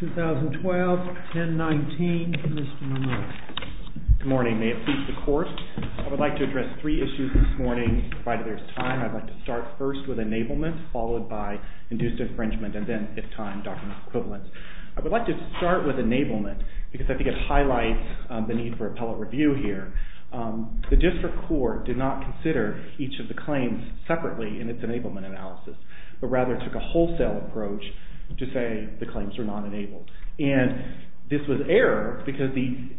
2012-10-19 Mr. Monroe. Good morning. May it please the Court, I would like to address three issues this morning provided there's time. I'd like to start first with enablement, followed by induced infringement, and then if time documents equivalent. I would like to start with enablement because I think it highlights the need for appellate review here. The district court did not consider each of the kinds of issues that were brought up in this report. The district court did not consider each of the kinds of issues that were brought up in this report. The district court did not consider each of the kinds of issues that were brought up in this report. Any claims separately in its enablement analysis, but rather took a wholesale approach to say the claims were not enabled. And this was error because the,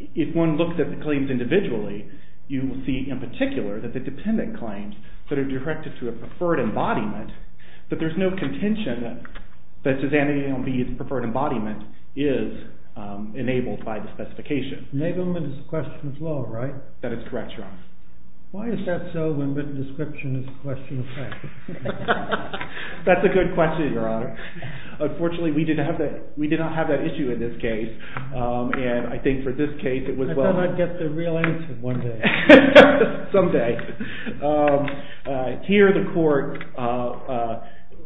if one looks at the claims individually, you will see in particular that the dependent claims that are directed to a preferred embodiment but there's no contention that Susannia A and B's preferred embodiment is enabled by the specification. Enablement is a question of law, right? That is correct, Your Honor. Why is that so when the description is a question of fact? That's a good question, Your Honor. Unfortunately, we did not have that issue in this case. And I think for this case it was well… I thought I'd get the real answer one day. Someday. Here the court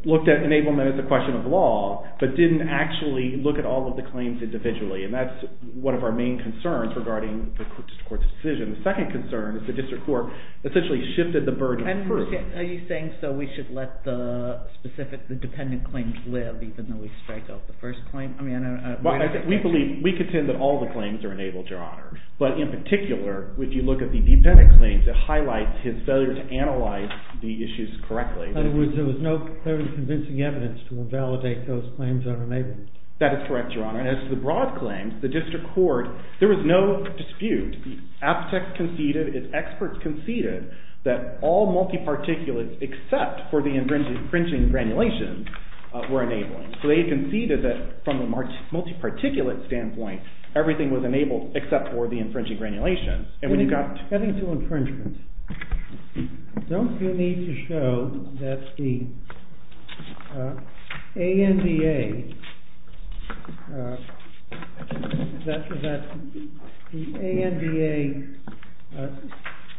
looked at enablement as a question of law, but didn't actually look at all of the claims individually. And that's one of our main concerns regarding the court's decision. The second concern is the district court essentially shifted the burden. Are you saying so we should let the specific, the dependent claims live even though we strike out the first claim? We believe, we contend that all the claims are enabled, Your Honor. But in particular, if you look at the dependent claims, it highlights his failure to analyze the issues correctly. In other words, there was no clearly convincing evidence to invalidate those claims that are enabled. That is correct, Your Honor. And as to the broad claims, the district court, there was no dispute. The APTEC conceded, its experts conceded that all multi-particulates except for the infringing granulations were enabling. So they conceded that from a multi-particulate standpoint, everything was enabled except for the infringing granulations. Cutting to infringement, don't you need to show that the ANBA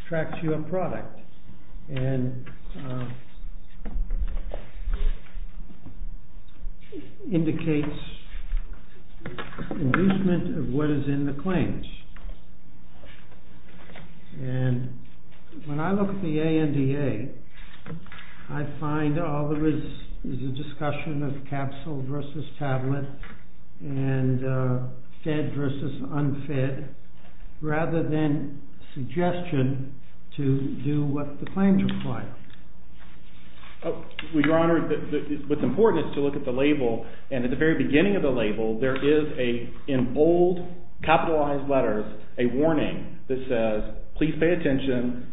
tracks your product and indicates inducement of what is in the claims? And when I look at the ANDA, I find all there is is a discussion of capsule versus tablet and fed versus unfed rather than suggestion to do what the claims require. Your Honor, what's important is to look at the label. And at the very beginning of the label, there is in bold capitalized letters a warning that says, please pay attention,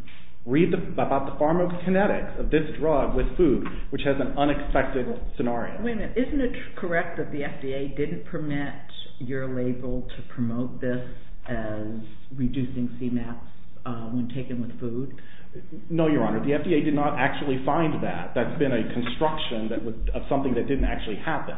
read about the pharmacokinetics of this drug with food, which has an unexpected scenario. Wait a minute. Isn't it correct that the FDA didn't permit your label to promote this as reducing CMAPs when taken with food? No, Your Honor. The FDA did not actually find that. That's been a construction of something that didn't actually happen.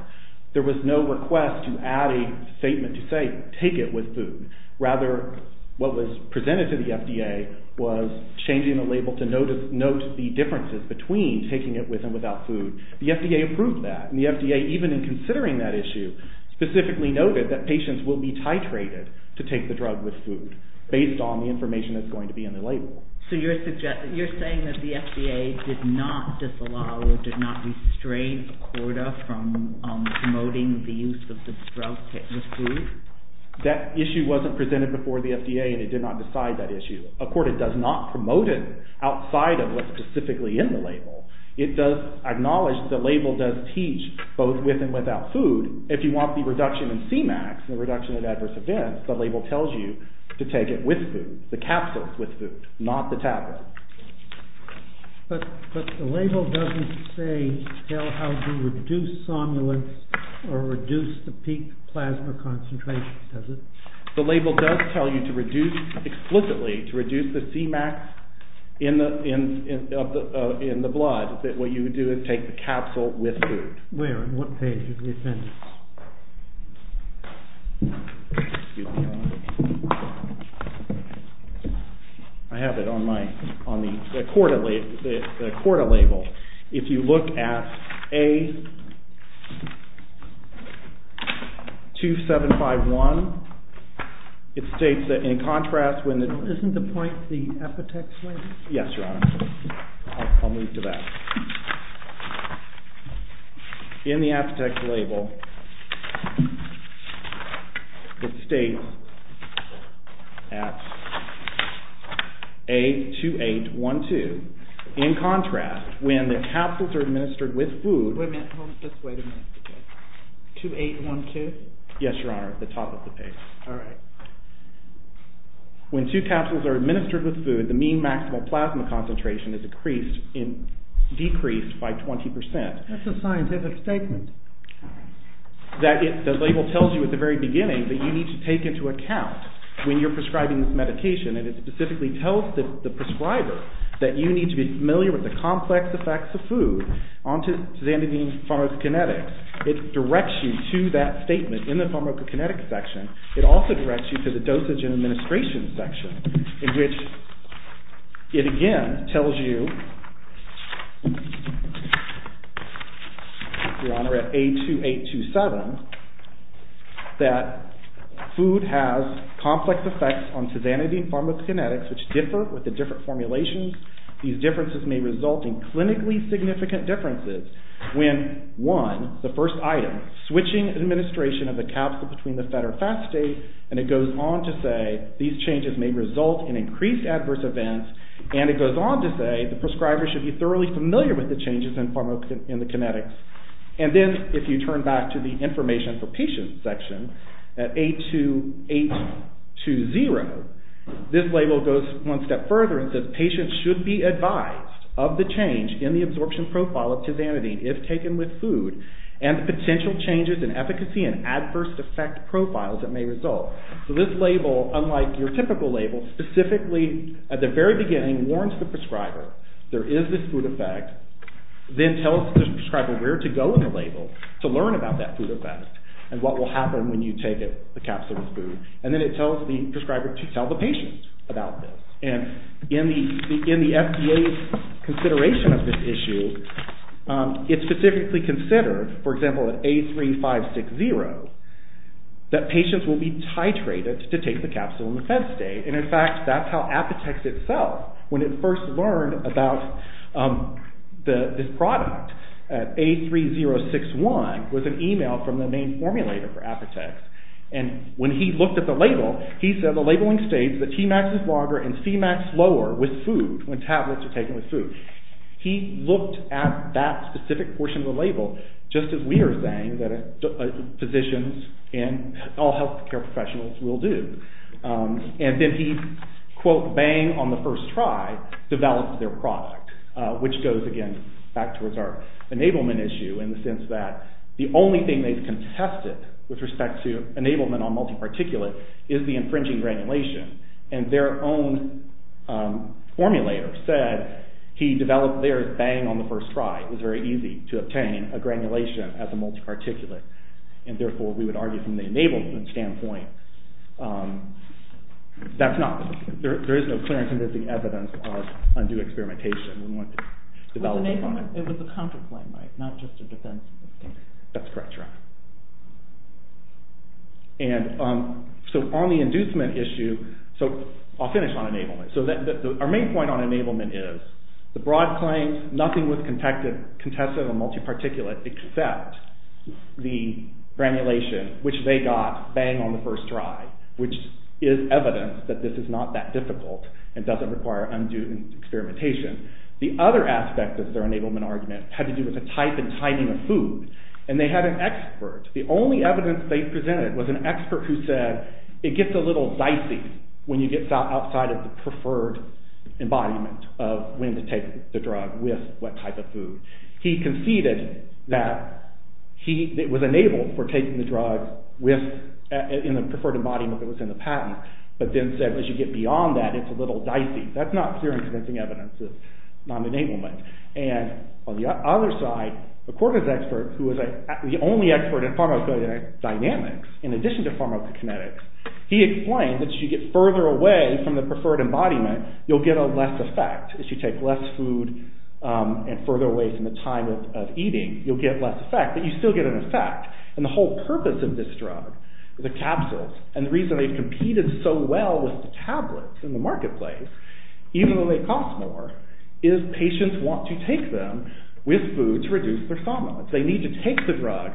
There was no request to add a statement to say take it with food. Rather, what was presented to the FDA was changing the label to note the differences between taking it with and without food. The FDA approved that. And the FDA, even in considering that issue, specifically noted that patients will be titrated to take the drug with food based on the information that's going to be in the label. So you're saying that the FDA did not disallow or did not restrain ACORDA from promoting the use of the drug with food? That issue wasn't presented before the FDA and it did not decide that issue. ACORDA does not promote it outside of what's specifically in the label. It does acknowledge that the label does teach both with and without food. If you want the reduction in CMAPs, the reduction in adverse events, the label tells you to take it with food, the capsules with food, not the tablets. But the label doesn't say how to reduce somnolence or reduce the peak plasma concentration, does it? The label does tell you to reduce explicitly, to reduce the CMAPs in the blood, that what you would do is take the capsule with food. Where, on what page of the appendix? I have it on my, on the ACORDA label. If you look at A2751, it states that in contrast when the... Yes, Your Honor. I'll move to that. In the APTEC label, it states at A2812, in contrast, when the capsules are administered with food... Wait a minute, hold on, just wait a minute. 2812? Yes, Your Honor, at the top of the page. Alright. When two capsules are administered with food, the mean maximal plasma concentration is decreased by 20%. That's a scientific statement. That it, the label tells you at the very beginning that you need to take into account when you're prescribing this medication, and it specifically tells the prescriber that you need to be familiar with the complex effects of food. On tizanidine pharmacokinetics, it directs you to that statement in the pharmacokinetic section. It also directs you to the dosage and administration section, in which it again tells you, Your Honor, at A2827, that food has complex effects on tizanidine pharmacokinetics, which differ with the different formulations. These differences may result in clinically significant differences when, one, the first item, switching administration of the capsule between the fed or fast stage, and it goes on to say, these changes may result in increased adverse events, and it goes on to say, the prescriber should be thoroughly familiar with the changes in pharmacokinetics. And then, if you turn back to the information for patients section, at A2820, this label goes one step further and says, patients should be advised of the change in the absorption profile of tizanidine if taken with food, and the potential changes in efficacy and adverse effect profiles that may result. So this label, unlike your typical label, specifically at the very beginning warns the prescriber, there is this food effect, then tells the prescriber where to go in the label to learn about that food effect and what will happen when you take the capsule with food, and then it tells the prescriber to tell the patient about this. And in the FDA's consideration of this issue, it specifically considered, for example, at A3560, that patients will be titrated to take the capsule in the fed state, and in fact, that's how Apotex itself, when it first learned about this product, at A3061, was an email from the main formulator for Apotex, and when he looked at the label, he said the labeling states that Tmax is longer and Cmax lower with food, when tablets are taken with food. He looked at that specific portion of the label, just as we are saying that physicians and all healthcare professionals will do. And then he, quote, bang on the first try, developed their product, which goes, again, back towards our enablement issue in the sense that the only thing they've contested with respect to enablement on multi-particulate is the infringing granulation, and their own formulator said he developed theirs bang on the first try. It was very easy to obtain a granulation as a multi-particulate, and therefore, we would argue from the enablement standpoint, there is no clear and convincing evidence of undue experimentation when one develops a product. It was a counter-claim, right? Not just a defense. That's correct. So on the inducement issue, I'll finish on enablement. Our main point on enablement is the broad claims, nothing was contested on multi-particulate except the granulation, which they got bang on the first try, which is evidence that this is not that difficult and doesn't require undue experimentation. The other aspect of their enablement argument had to do with the type and timing of food, and they had an expert. The only evidence they presented was an expert who said it gets a little dicey when you get outside of the preferred embodiment of when to take the drug with what type of food. He conceded that it was enabled for taking the drug in the preferred embodiment that was in the patent, but then said as you get beyond that, it's a little dicey. That's not clear and convincing evidence of non-enablement. And on the other side, a quarters expert who was the only expert in pharmacodynamics, in addition to pharmacokinetics, he explained that as you get further away from the preferred embodiment, you'll get a less effect. As you take less food and further away from the time of eating, you'll get less effect, but you still get an effect. And the whole purpose of this drug, the capsules, and the reason they've competed so well with the tablets in the marketplace, even though they cost more, is patients want to take them with food to reduce their thalamus. They need to take the drug,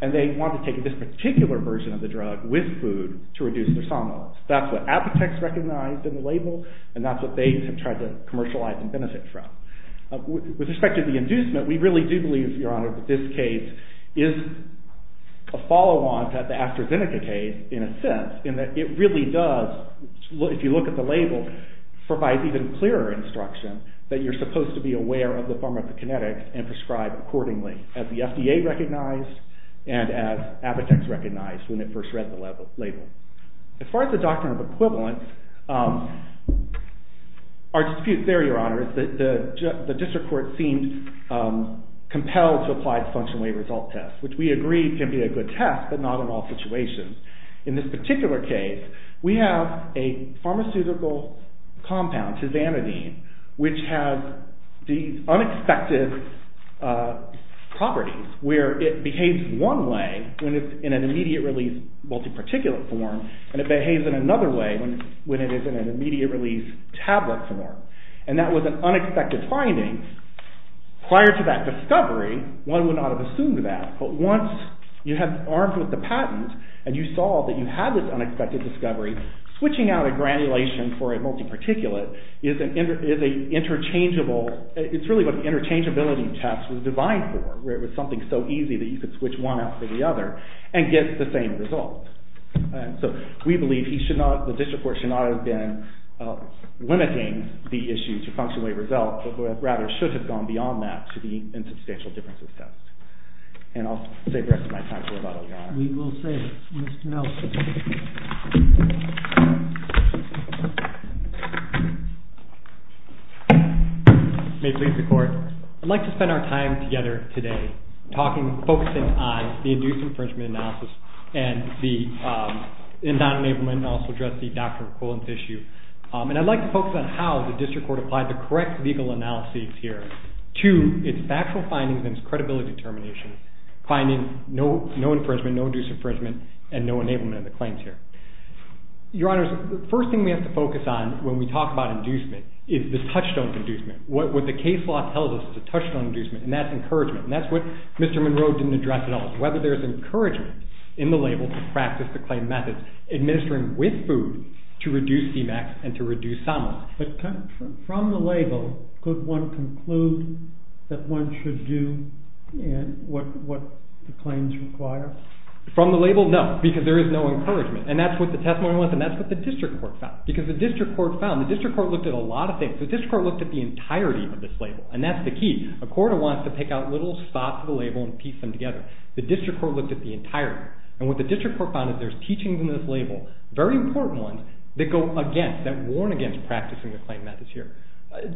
and they want to take this particular version of the drug with food to reduce their thalamus. That's what Abbatex recognized in the label, and that's what they have tried to commercialize and benefit from. With respect to the inducement, we really do believe, Your Honor, that this case is a follow-on to the AstraZeneca case in a sense, in that it really does, if you look at the label, provide even clearer instruction that you're supposed to be aware of the pharmacokinetics and prescribe accordingly, as the FDA recognized and as Abbatex recognized when it first read the label. As far as the doctrine of equivalence, our dispute there, Your Honor, is that the district court seemed compelled to apply the functional wave result test, which we agree can be a good test, but not in all situations. In this particular case, we have a pharmaceutical compound, Tizanidine, which has these unexpected properties where it behaves one way when it's in an immediate-release multi-particulate form, and it behaves in another way when it is in an immediate-release tablet form. And that was an unexpected finding. Prior to that discovery, one would not have assumed that, but once you had arms with the patent and you saw that you had this unexpected discovery, switching out a granulation for a multi-particulate is a interchangeable— it's really what the interchangeability test was designed for, where it was something so easy that you could switch one out for the other and get the same result. So we believe the district court should not have been limiting the issue to functional wave results, but rather should have gone beyond that to the insubstantial differences test. And I'll save the rest of my time for Abbatex, Your Honor. We will save it. Mr. Nelson. May it please the Court. I'd like to spend our time together today focusing on the induced infringement analysis and non-enablement, and I'll also address the doctor equivalent issue. And I'd like to focus on how the district court applied the correct legal analysis here to its factual findings and its credibility determination, finding no infringement, no induced infringement, and no enablement of the claims here. Your Honors, the first thing we have to focus on when we talk about inducement is the touchstone inducement. What the case law tells us is a touchstone inducement, and that's encouragement. And that's what Mr. Monroe didn't address at all, is whether there's encouragement in the label to practice the claim methods, administering with food to reduce CMAX and to reduce SOMA. But from the label, could one conclude that one should do what the claims require? From the label, no, because there is no encouragement. And that's what the testimony was, and that's what the district court found. Because the district court found, the district court looked at a lot of things. The district court looked at the entirety of this label, and that's the key. A court wants to pick out little spots of the label and piece them together. The district court looked at the entirety. And what the district court found is there's teachings in this label, very important ones, that go against, that warn against practicing the claim methods here.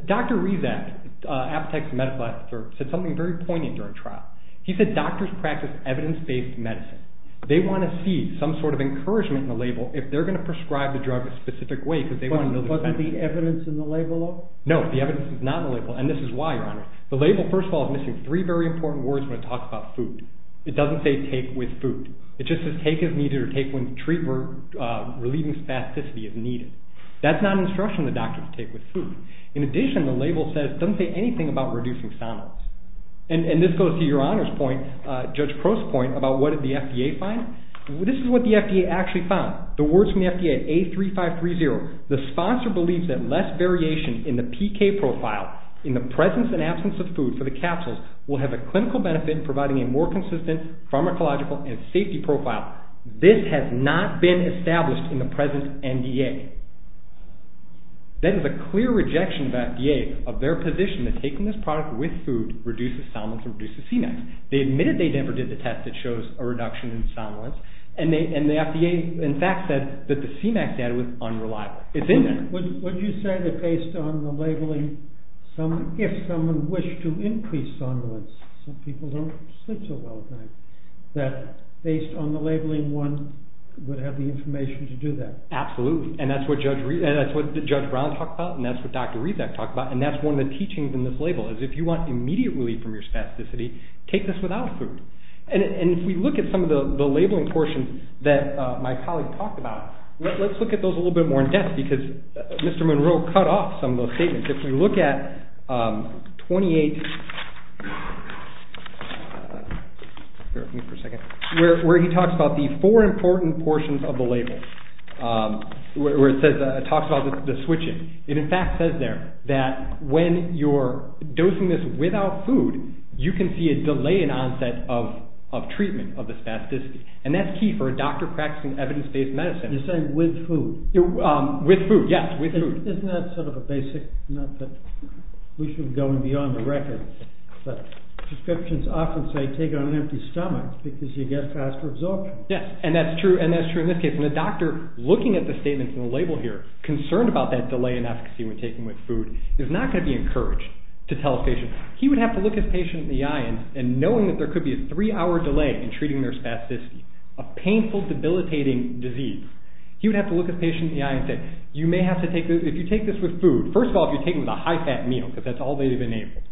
Dr. Rezac, Appetect's medical officer, said something very poignant during trial. He said doctors practice evidence-based medicine. They want to see some sort of encouragement in the label if they're going to prescribe the drug a specific way because they want to know the benefits. Wasn't the evidence in the label, though? No, the evidence is not in the label, and this is why, Your Honor. The label, first of all, is missing three very important words when it talks about food. It doesn't say take with food. It just says take as needed or take when treated or relieving spasticity as needed. That's not an instruction that doctors take with food. In addition, the label says it doesn't say anything about reducing somnolence. And this goes to Your Honor's point, Judge Crow's point, about what did the FDA find. This is what the FDA actually found. The words from the FDA, A3530, the sponsor believes that less variation in the PK profile in the presence and absence of food for the capsules will have a clinical benefit in providing a more consistent pharmacological and safety profile. This has not been established in the present NDA. That is a clear rejection of the FDA of their position that taking this product with food reduces somnolence and reduces CMAX. They admitted they never did the test that shows a reduction in somnolence, and the FDA in fact said that the CMAX data was unreliable. Would you say that based on the labeling, if someone wished to increase somnolence, some people don't sleep so well at night, that based on the labeling one would have the information to do that? Absolutely, and that's what Judge Brown talked about, and that's what Dr. Rezek talked about, and that's one of the teachings in this label is if you want immediate relief from your spasticity, take this without food. And if we look at some of the labeling portions that my colleague talked about, let's look at those a little bit more in depth because Mr. Monroe cut off some of those statements. If we look at 28, where he talks about the four important portions of the label, where it talks about the switching, it in fact says there that when you're dosing this without food, you can see a delay in onset of treatment of the spasticity, and that's key for a doctor practicing evidence-based medicine. You're saying with food? With food, yes, with food. Isn't that sort of a basic, not that we should be going beyond the record, but prescriptions often say take it on an empty stomach because you get faster absorption. Yes, and that's true, and that's true in this case. And the doctor, looking at the statements in the label here, concerned about that delay in efficacy when taken with food, is not going to be encouraged to tell his patient. He would have to look his patient in the eye, and knowing that there could be a three-hour delay in treating their spasticity, a painful, debilitating disease, he would have to look his patient in the eye and say, you may have to take this, if you take this with food, first of all, if you take it with a high-fat meal, because that's all they've enabled,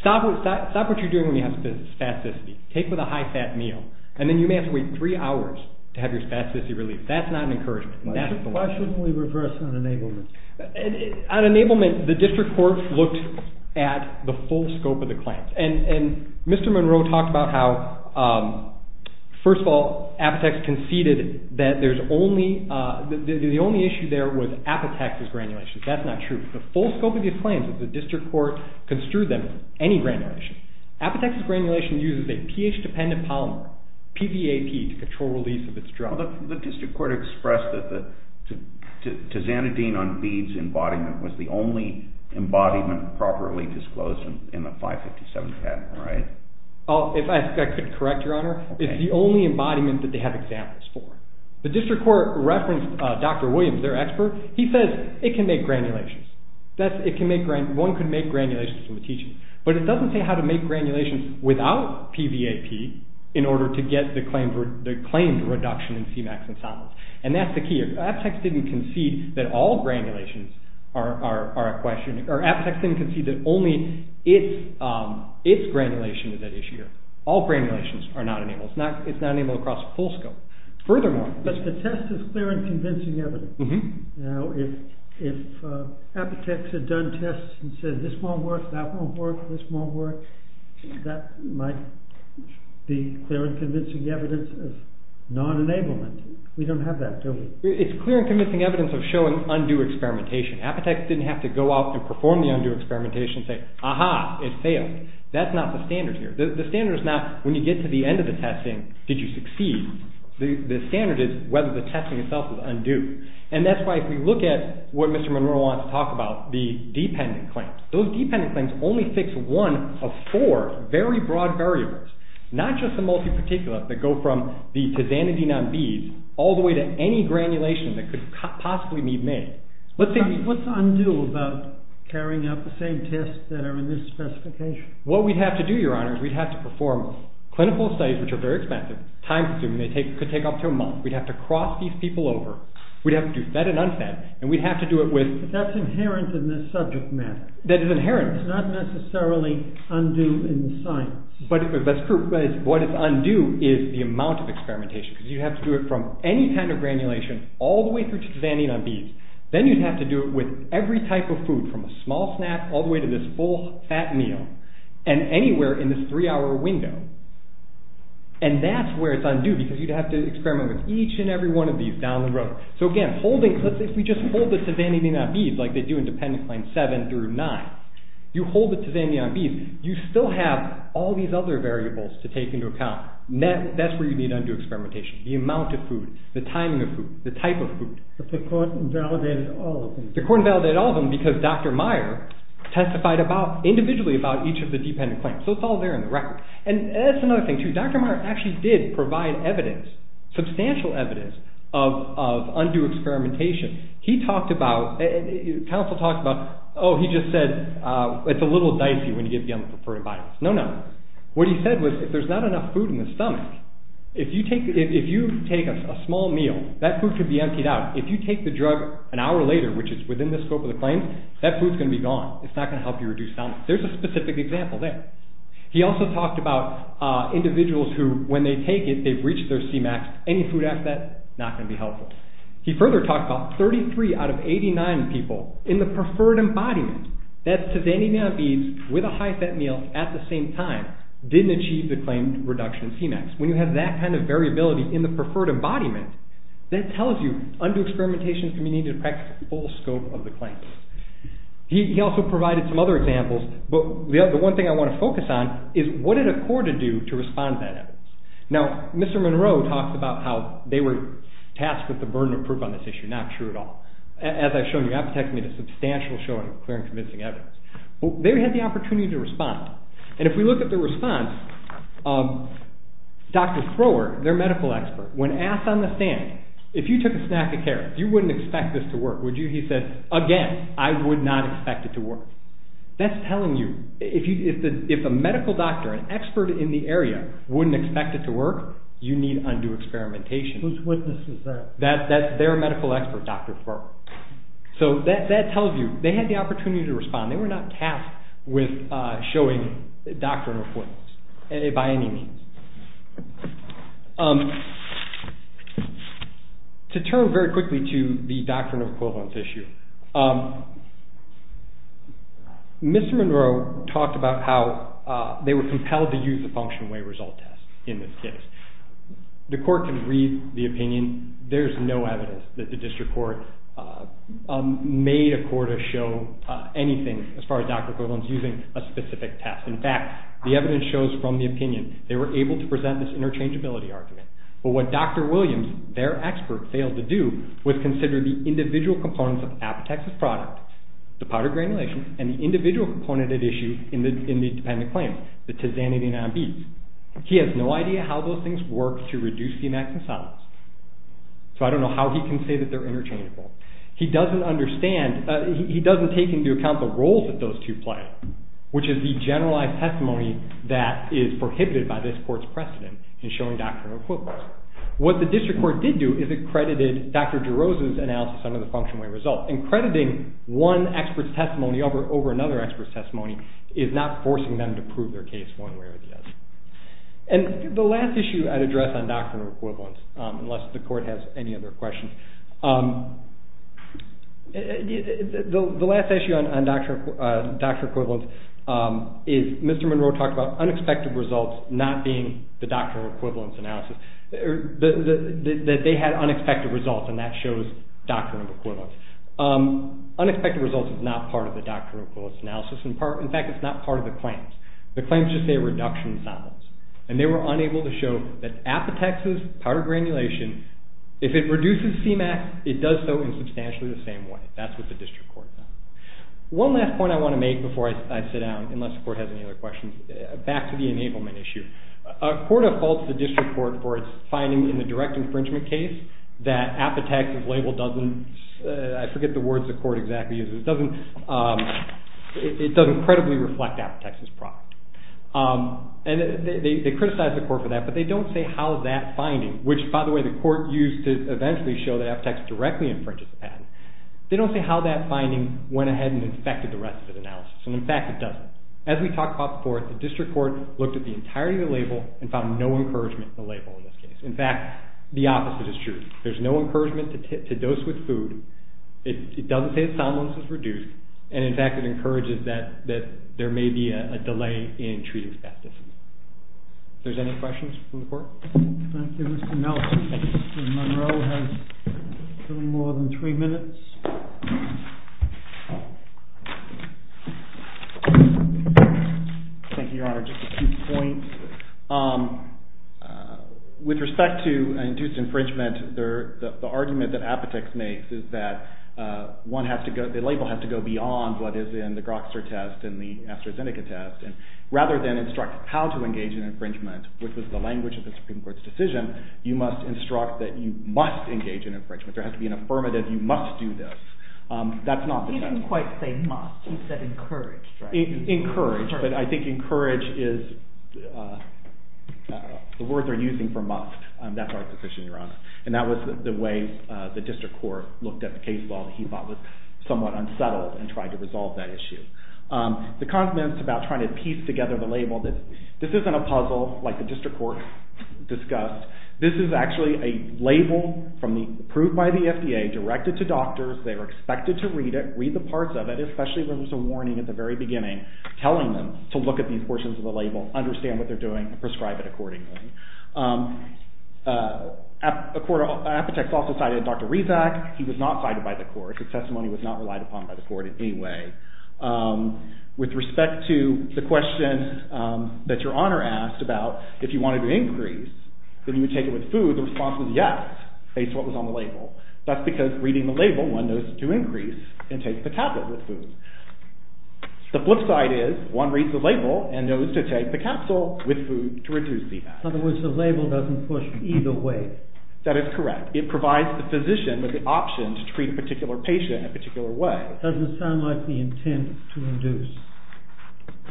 stop what you're doing when you have spasticity. Take it with a high-fat meal, and then you may have to wait three hours to have your spasticity relieved. That's not an encouragement. Why shouldn't we reverse on enablement? On enablement, the district court looked at the full scope of the claims, and Mr. Monroe talked about how, first of all, Apotex conceded that the only issue there was Apotex's granulation. That's not true. The full scope of the claims is that the district court construed them for any granulation. Apotex's granulation uses a pH-dependent polymer, PVAP, to control release of its drug. The district court expressed that the tizanidine on beads embodiment was the only embodiment properly disclosed in the 557 patent, right? If I could correct, Your Honor, it's the only embodiment that they have examples for. The district court referenced Dr. Williams, their expert. He says it can make granulations. One could make granulations from a tizanidine, but it doesn't say how to make granulations without PVAP in order to get the claimed reduction in Cmax and solids, and that's the key. Apotex didn't concede that all granulations are a question. Apotex didn't concede that only its granulation is at issue here. All granulations are not enabled. It's not enabled across the full scope. Furthermore... But the test is clear and convincing evidence. Now, if Apotex had done tests and said, this won't work, that won't work, this won't work, that might be clear and convincing evidence of non-enablement. We don't have that, do we? It's clear and convincing evidence of showing undue experimentation. Apotex didn't have to go out and perform the undue experimentation and say, aha, it failed. That's not the standard here. The standard is not when you get to the end of the testing, did you succeed? The standard is whether the testing itself is undue. And that's why if we look at what Mr. Munro wants to talk about, the dependent claims, those dependent claims only fix one of four very broad variables, not just the multi-particulate that go from the tizanidine on beads all the way to any granulation that could possibly need made. What's undue about carrying out the same tests that are in this specification? What we'd have to do, Your Honor, is we'd have to perform clinical studies, which are very expensive, time-consuming, they could take up to a month. We'd have to cross these people over. We'd have to do fed and unfed, and we'd have to do it with... But that's inherent in this subject matter. That is inherent. It's not necessarily undue in the science. That's true. But what is undue is the amount of experimentation, because you'd have to do it from any kind of granulation all the way through to tizanidine on beads. Then you'd have to do it with every type of food, from a small snack all the way to this full, fat meal, and anywhere in this three-hour window. And that's where it's undue, because you'd have to experiment with each and every one of these down the road. So again, if we just hold the tizanidine on beads, like they do in dependent claims 7 through 9, you hold the tizanidine on beads, you still have all these other variables to take into account. That's where you need undue experimentation. The amount of food, the timing of food, the type of food. But the court invalidated all of them. The court invalidated all of them because Dr. Meyer testified individually about each of the dependent claims. So it's all there in the record. And that's another thing, too. Dr. Meyer actually did provide evidence, substantial evidence, of undue experimentation. He talked about... Counsel talked about, oh, he just said, it's a little dicey when you give the unpreferred vitamins. No, no. What he said was, if there's not enough food in the stomach, if you take a small meal, that food could be emptied out. If you take the drug an hour later, which is within the scope of the claim, that food's going to be gone. It's not going to help you reduce stomach. There's a specific example there. He also talked about individuals who, when they take it, they've reached their C-max. Any food after that, not going to be helpful. He further talked about 33 out of 89 people in the preferred embodiment. That's to say any amount of beads with a high-fat meal at the same time didn't achieve the claimed reduction in C-max. When you have that kind of variability in the preferred embodiment, that tells you undue experimentation can be needed to practice the full scope of the claim. He also provided some other examples, but the one thing I want to focus on is what it accorded you to respond to that evidence. Now, Mr. Monroe talked about how they were tasked with the burden of proof on this issue. Not true at all. As I've shown you, apothecary made a substantial showing of clear and convincing evidence. They had the opportunity to respond, and if we look at the response, Dr. Thrower, their medical expert, when asked on the stand, if you took a snack of carrots, you wouldn't expect this to work, would you? He said, again, I would not expect it to work. That's telling you, if a medical doctor, an expert in the area, wouldn't expect it to work, you need undue experimentation. Whose witness is that? That's their medical expert, Dr. Thrower. So that tells you, they had the opportunity to respond. They were not tasked with showing doctrine of equivalence, by any means. To turn very quickly to the doctrine of equivalence issue, Mr. Monroe talked about how they were compelled to use a function-of-weight result test in this case. The court can read the opinion. There's no evidence that the district court made a court to show anything as far as doctrine of equivalence using a specific test. In fact, the evidence shows from the opinion, they were able to present this interchangeability argument. But what Dr. Williams, their expert, failed to do was consider the individual components of Apotex's product, the powdered granulation, and the individual component at issue in the dependent claim, the tizanidine on beets. He has no idea how those things work to reduce the amount of solids. So I don't know how he can say that they're interchangeable. He doesn't understand, he doesn't take into account the role that those two play, which is the generalized testimony that is prohibited by this court's precedent in showing doctrine of equivalence. What the district court did do is it credited Dr. DeRosa's analysis under the function-of-weight result. And crediting one expert's testimony over another expert's testimony is not forcing them to prove their case one way or the other. And the last issue I'd address on doctrine of equivalence, unless the court has any other questions, the last issue on doctrine of equivalence is Mr. Monroe talked about unexpected results not being the doctrine of equivalence analysis, that they had unexpected results and that shows doctrine of equivalence. Unexpected results is not part of the doctrine of equivalence analysis. In fact, it's not part of the claims. The claims just say reduction in samples. And they were unable to show that Apotex's powdered granulation, if it reduces CMAQ, it does so in substantially the same way. That's what the district court found. One last point I want to make before I sit down, unless the court has any other questions, back to the enablement issue. A court of fault to the district court for its finding in the direct infringement case that Apotex's label doesn't, I forget the words the court exactly uses, it doesn't credibly reflect Apotex's product. And they criticized the court for that, but they don't say how that finding, which by the way the court used to eventually show that Apotex directly infringes the patent, they don't say how that finding went ahead and infected the rest of the analysis. And in fact, it doesn't. As we talked about before, the district court looked at the entirety of the label and found no encouragement in the label in this case. In fact, the opposite is true. There's no encouragement to dose with food. It doesn't say its soundness is reduced. And in fact, it encourages that there may be a delay in treating staff differently. If there's any questions from the court. Thank you, Mr. Nelson. Mr. Monroe has a little more than three minutes. Thank you, Your Honor. Just a few points. With respect to induced infringement, the argument that Apotex makes is that the label has to go beyond what is in the Grokster test and the AstraZeneca test. Rather than instruct how to engage in infringement, which was the language of the Supreme Court's decision, you must instruct that you must engage in infringement. There has to be an affirmative. You must do this. That's not the test. He didn't quite say must. He said encouraged. Encouraged. But I think encouraged is the word they're using for must. That's our position, Your Honor. And that was the way the district court looked at the case law that he thought was somewhat unsettled and tried to resolve that issue. The comments about trying to piece together the label, this isn't a puzzle like the district court discussed. This is actually a label approved by the FDA, directed to doctors. They were expected to read it, read the parts of it, especially when there's a warning at the very beginning telling them to look at these portions of the label, understand what they're doing, and prescribe it accordingly. Apotex also cited Dr. Rezac. He was not cited by the court. His testimony was not relied upon by the court in any way. With respect to the question that Your Honor asked about if you wanted to increase, then you would take it with food, the response was yes, based on what was on the label. That's because reading the label, one knows to increase and take the tablet with food. The flip side is one reads the label and knows to take the capsule with food to reduce CMAX. In other words, the label doesn't push either way. That is correct. It provides the physician with the option to treat a particular patient in a particular way. It doesn't sound like the intent to induce.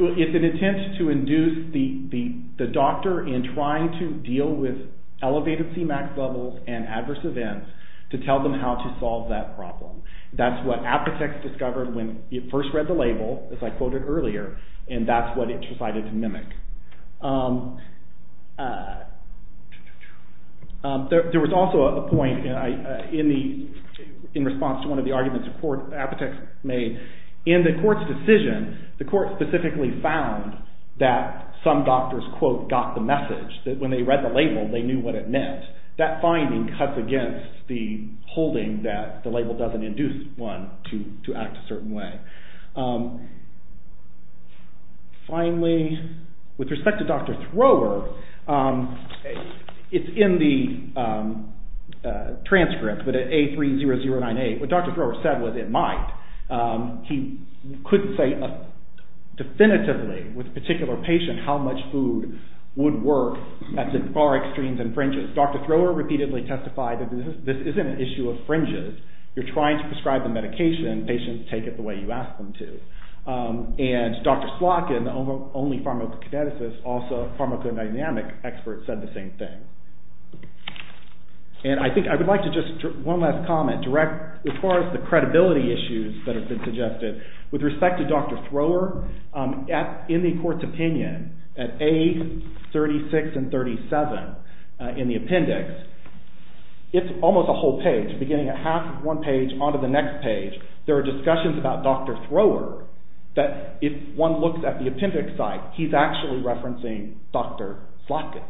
It's an intent to induce the doctor in trying to deal with elevated CMAX levels and adverse events to tell them how to solve that problem. That's what Apotex discovered when it first read the label, as I quoted earlier, and that's what it decided to mimic. There was also a point in response to one of the arguments that Apotex made. In the court's decision, the court specifically found that some doctors, quote, got the message that when they read the label, they knew what it meant. That finding cuts against the holding that the label doesn't induce one to act a certain way. Finally, with respect to Dr. Thrower, it's in the transcript, but at A30098, what Dr. Thrower said was it might. He couldn't say definitively with a particular patient how much food would work at the far extremes and fringes. Dr. Thrower repeatedly testified that this isn't an issue of fringes. You're trying to prescribe the medication, and patients take it the way you ask them to. And Dr. Slotkin, the only pharmacokineticist, also a pharmacodynamic expert, said the same thing. And I think I would like to just one last comment direct as far as the credibility issues that have been suggested. With respect to Dr. Thrower, in the court's opinion, at A36 and 37 in the appendix, it's almost a whole page, beginning at half of one page onto the next page. There are discussions about Dr. Thrower that if one looks at the appendix site, he's actually referencing Dr. Slotkin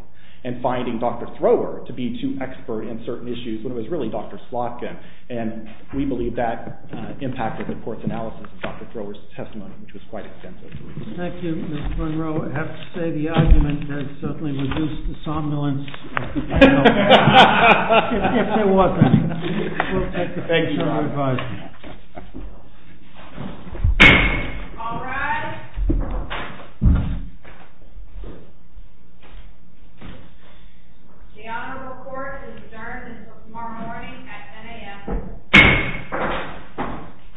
and finding Dr. Thrower to be too expert in certain issues when it was really Dr. Slotkin. And we believe that impacted the court's analysis of Dr. Thrower's testimony, which was quite extensive. Thank you, Mr. Munro. I have to say the argument has certainly reduced the somnolence of the panel. If there wasn't. We'll take the bench to our advice. All rise. The honorable court is adjourned until tomorrow morning at 10 AM.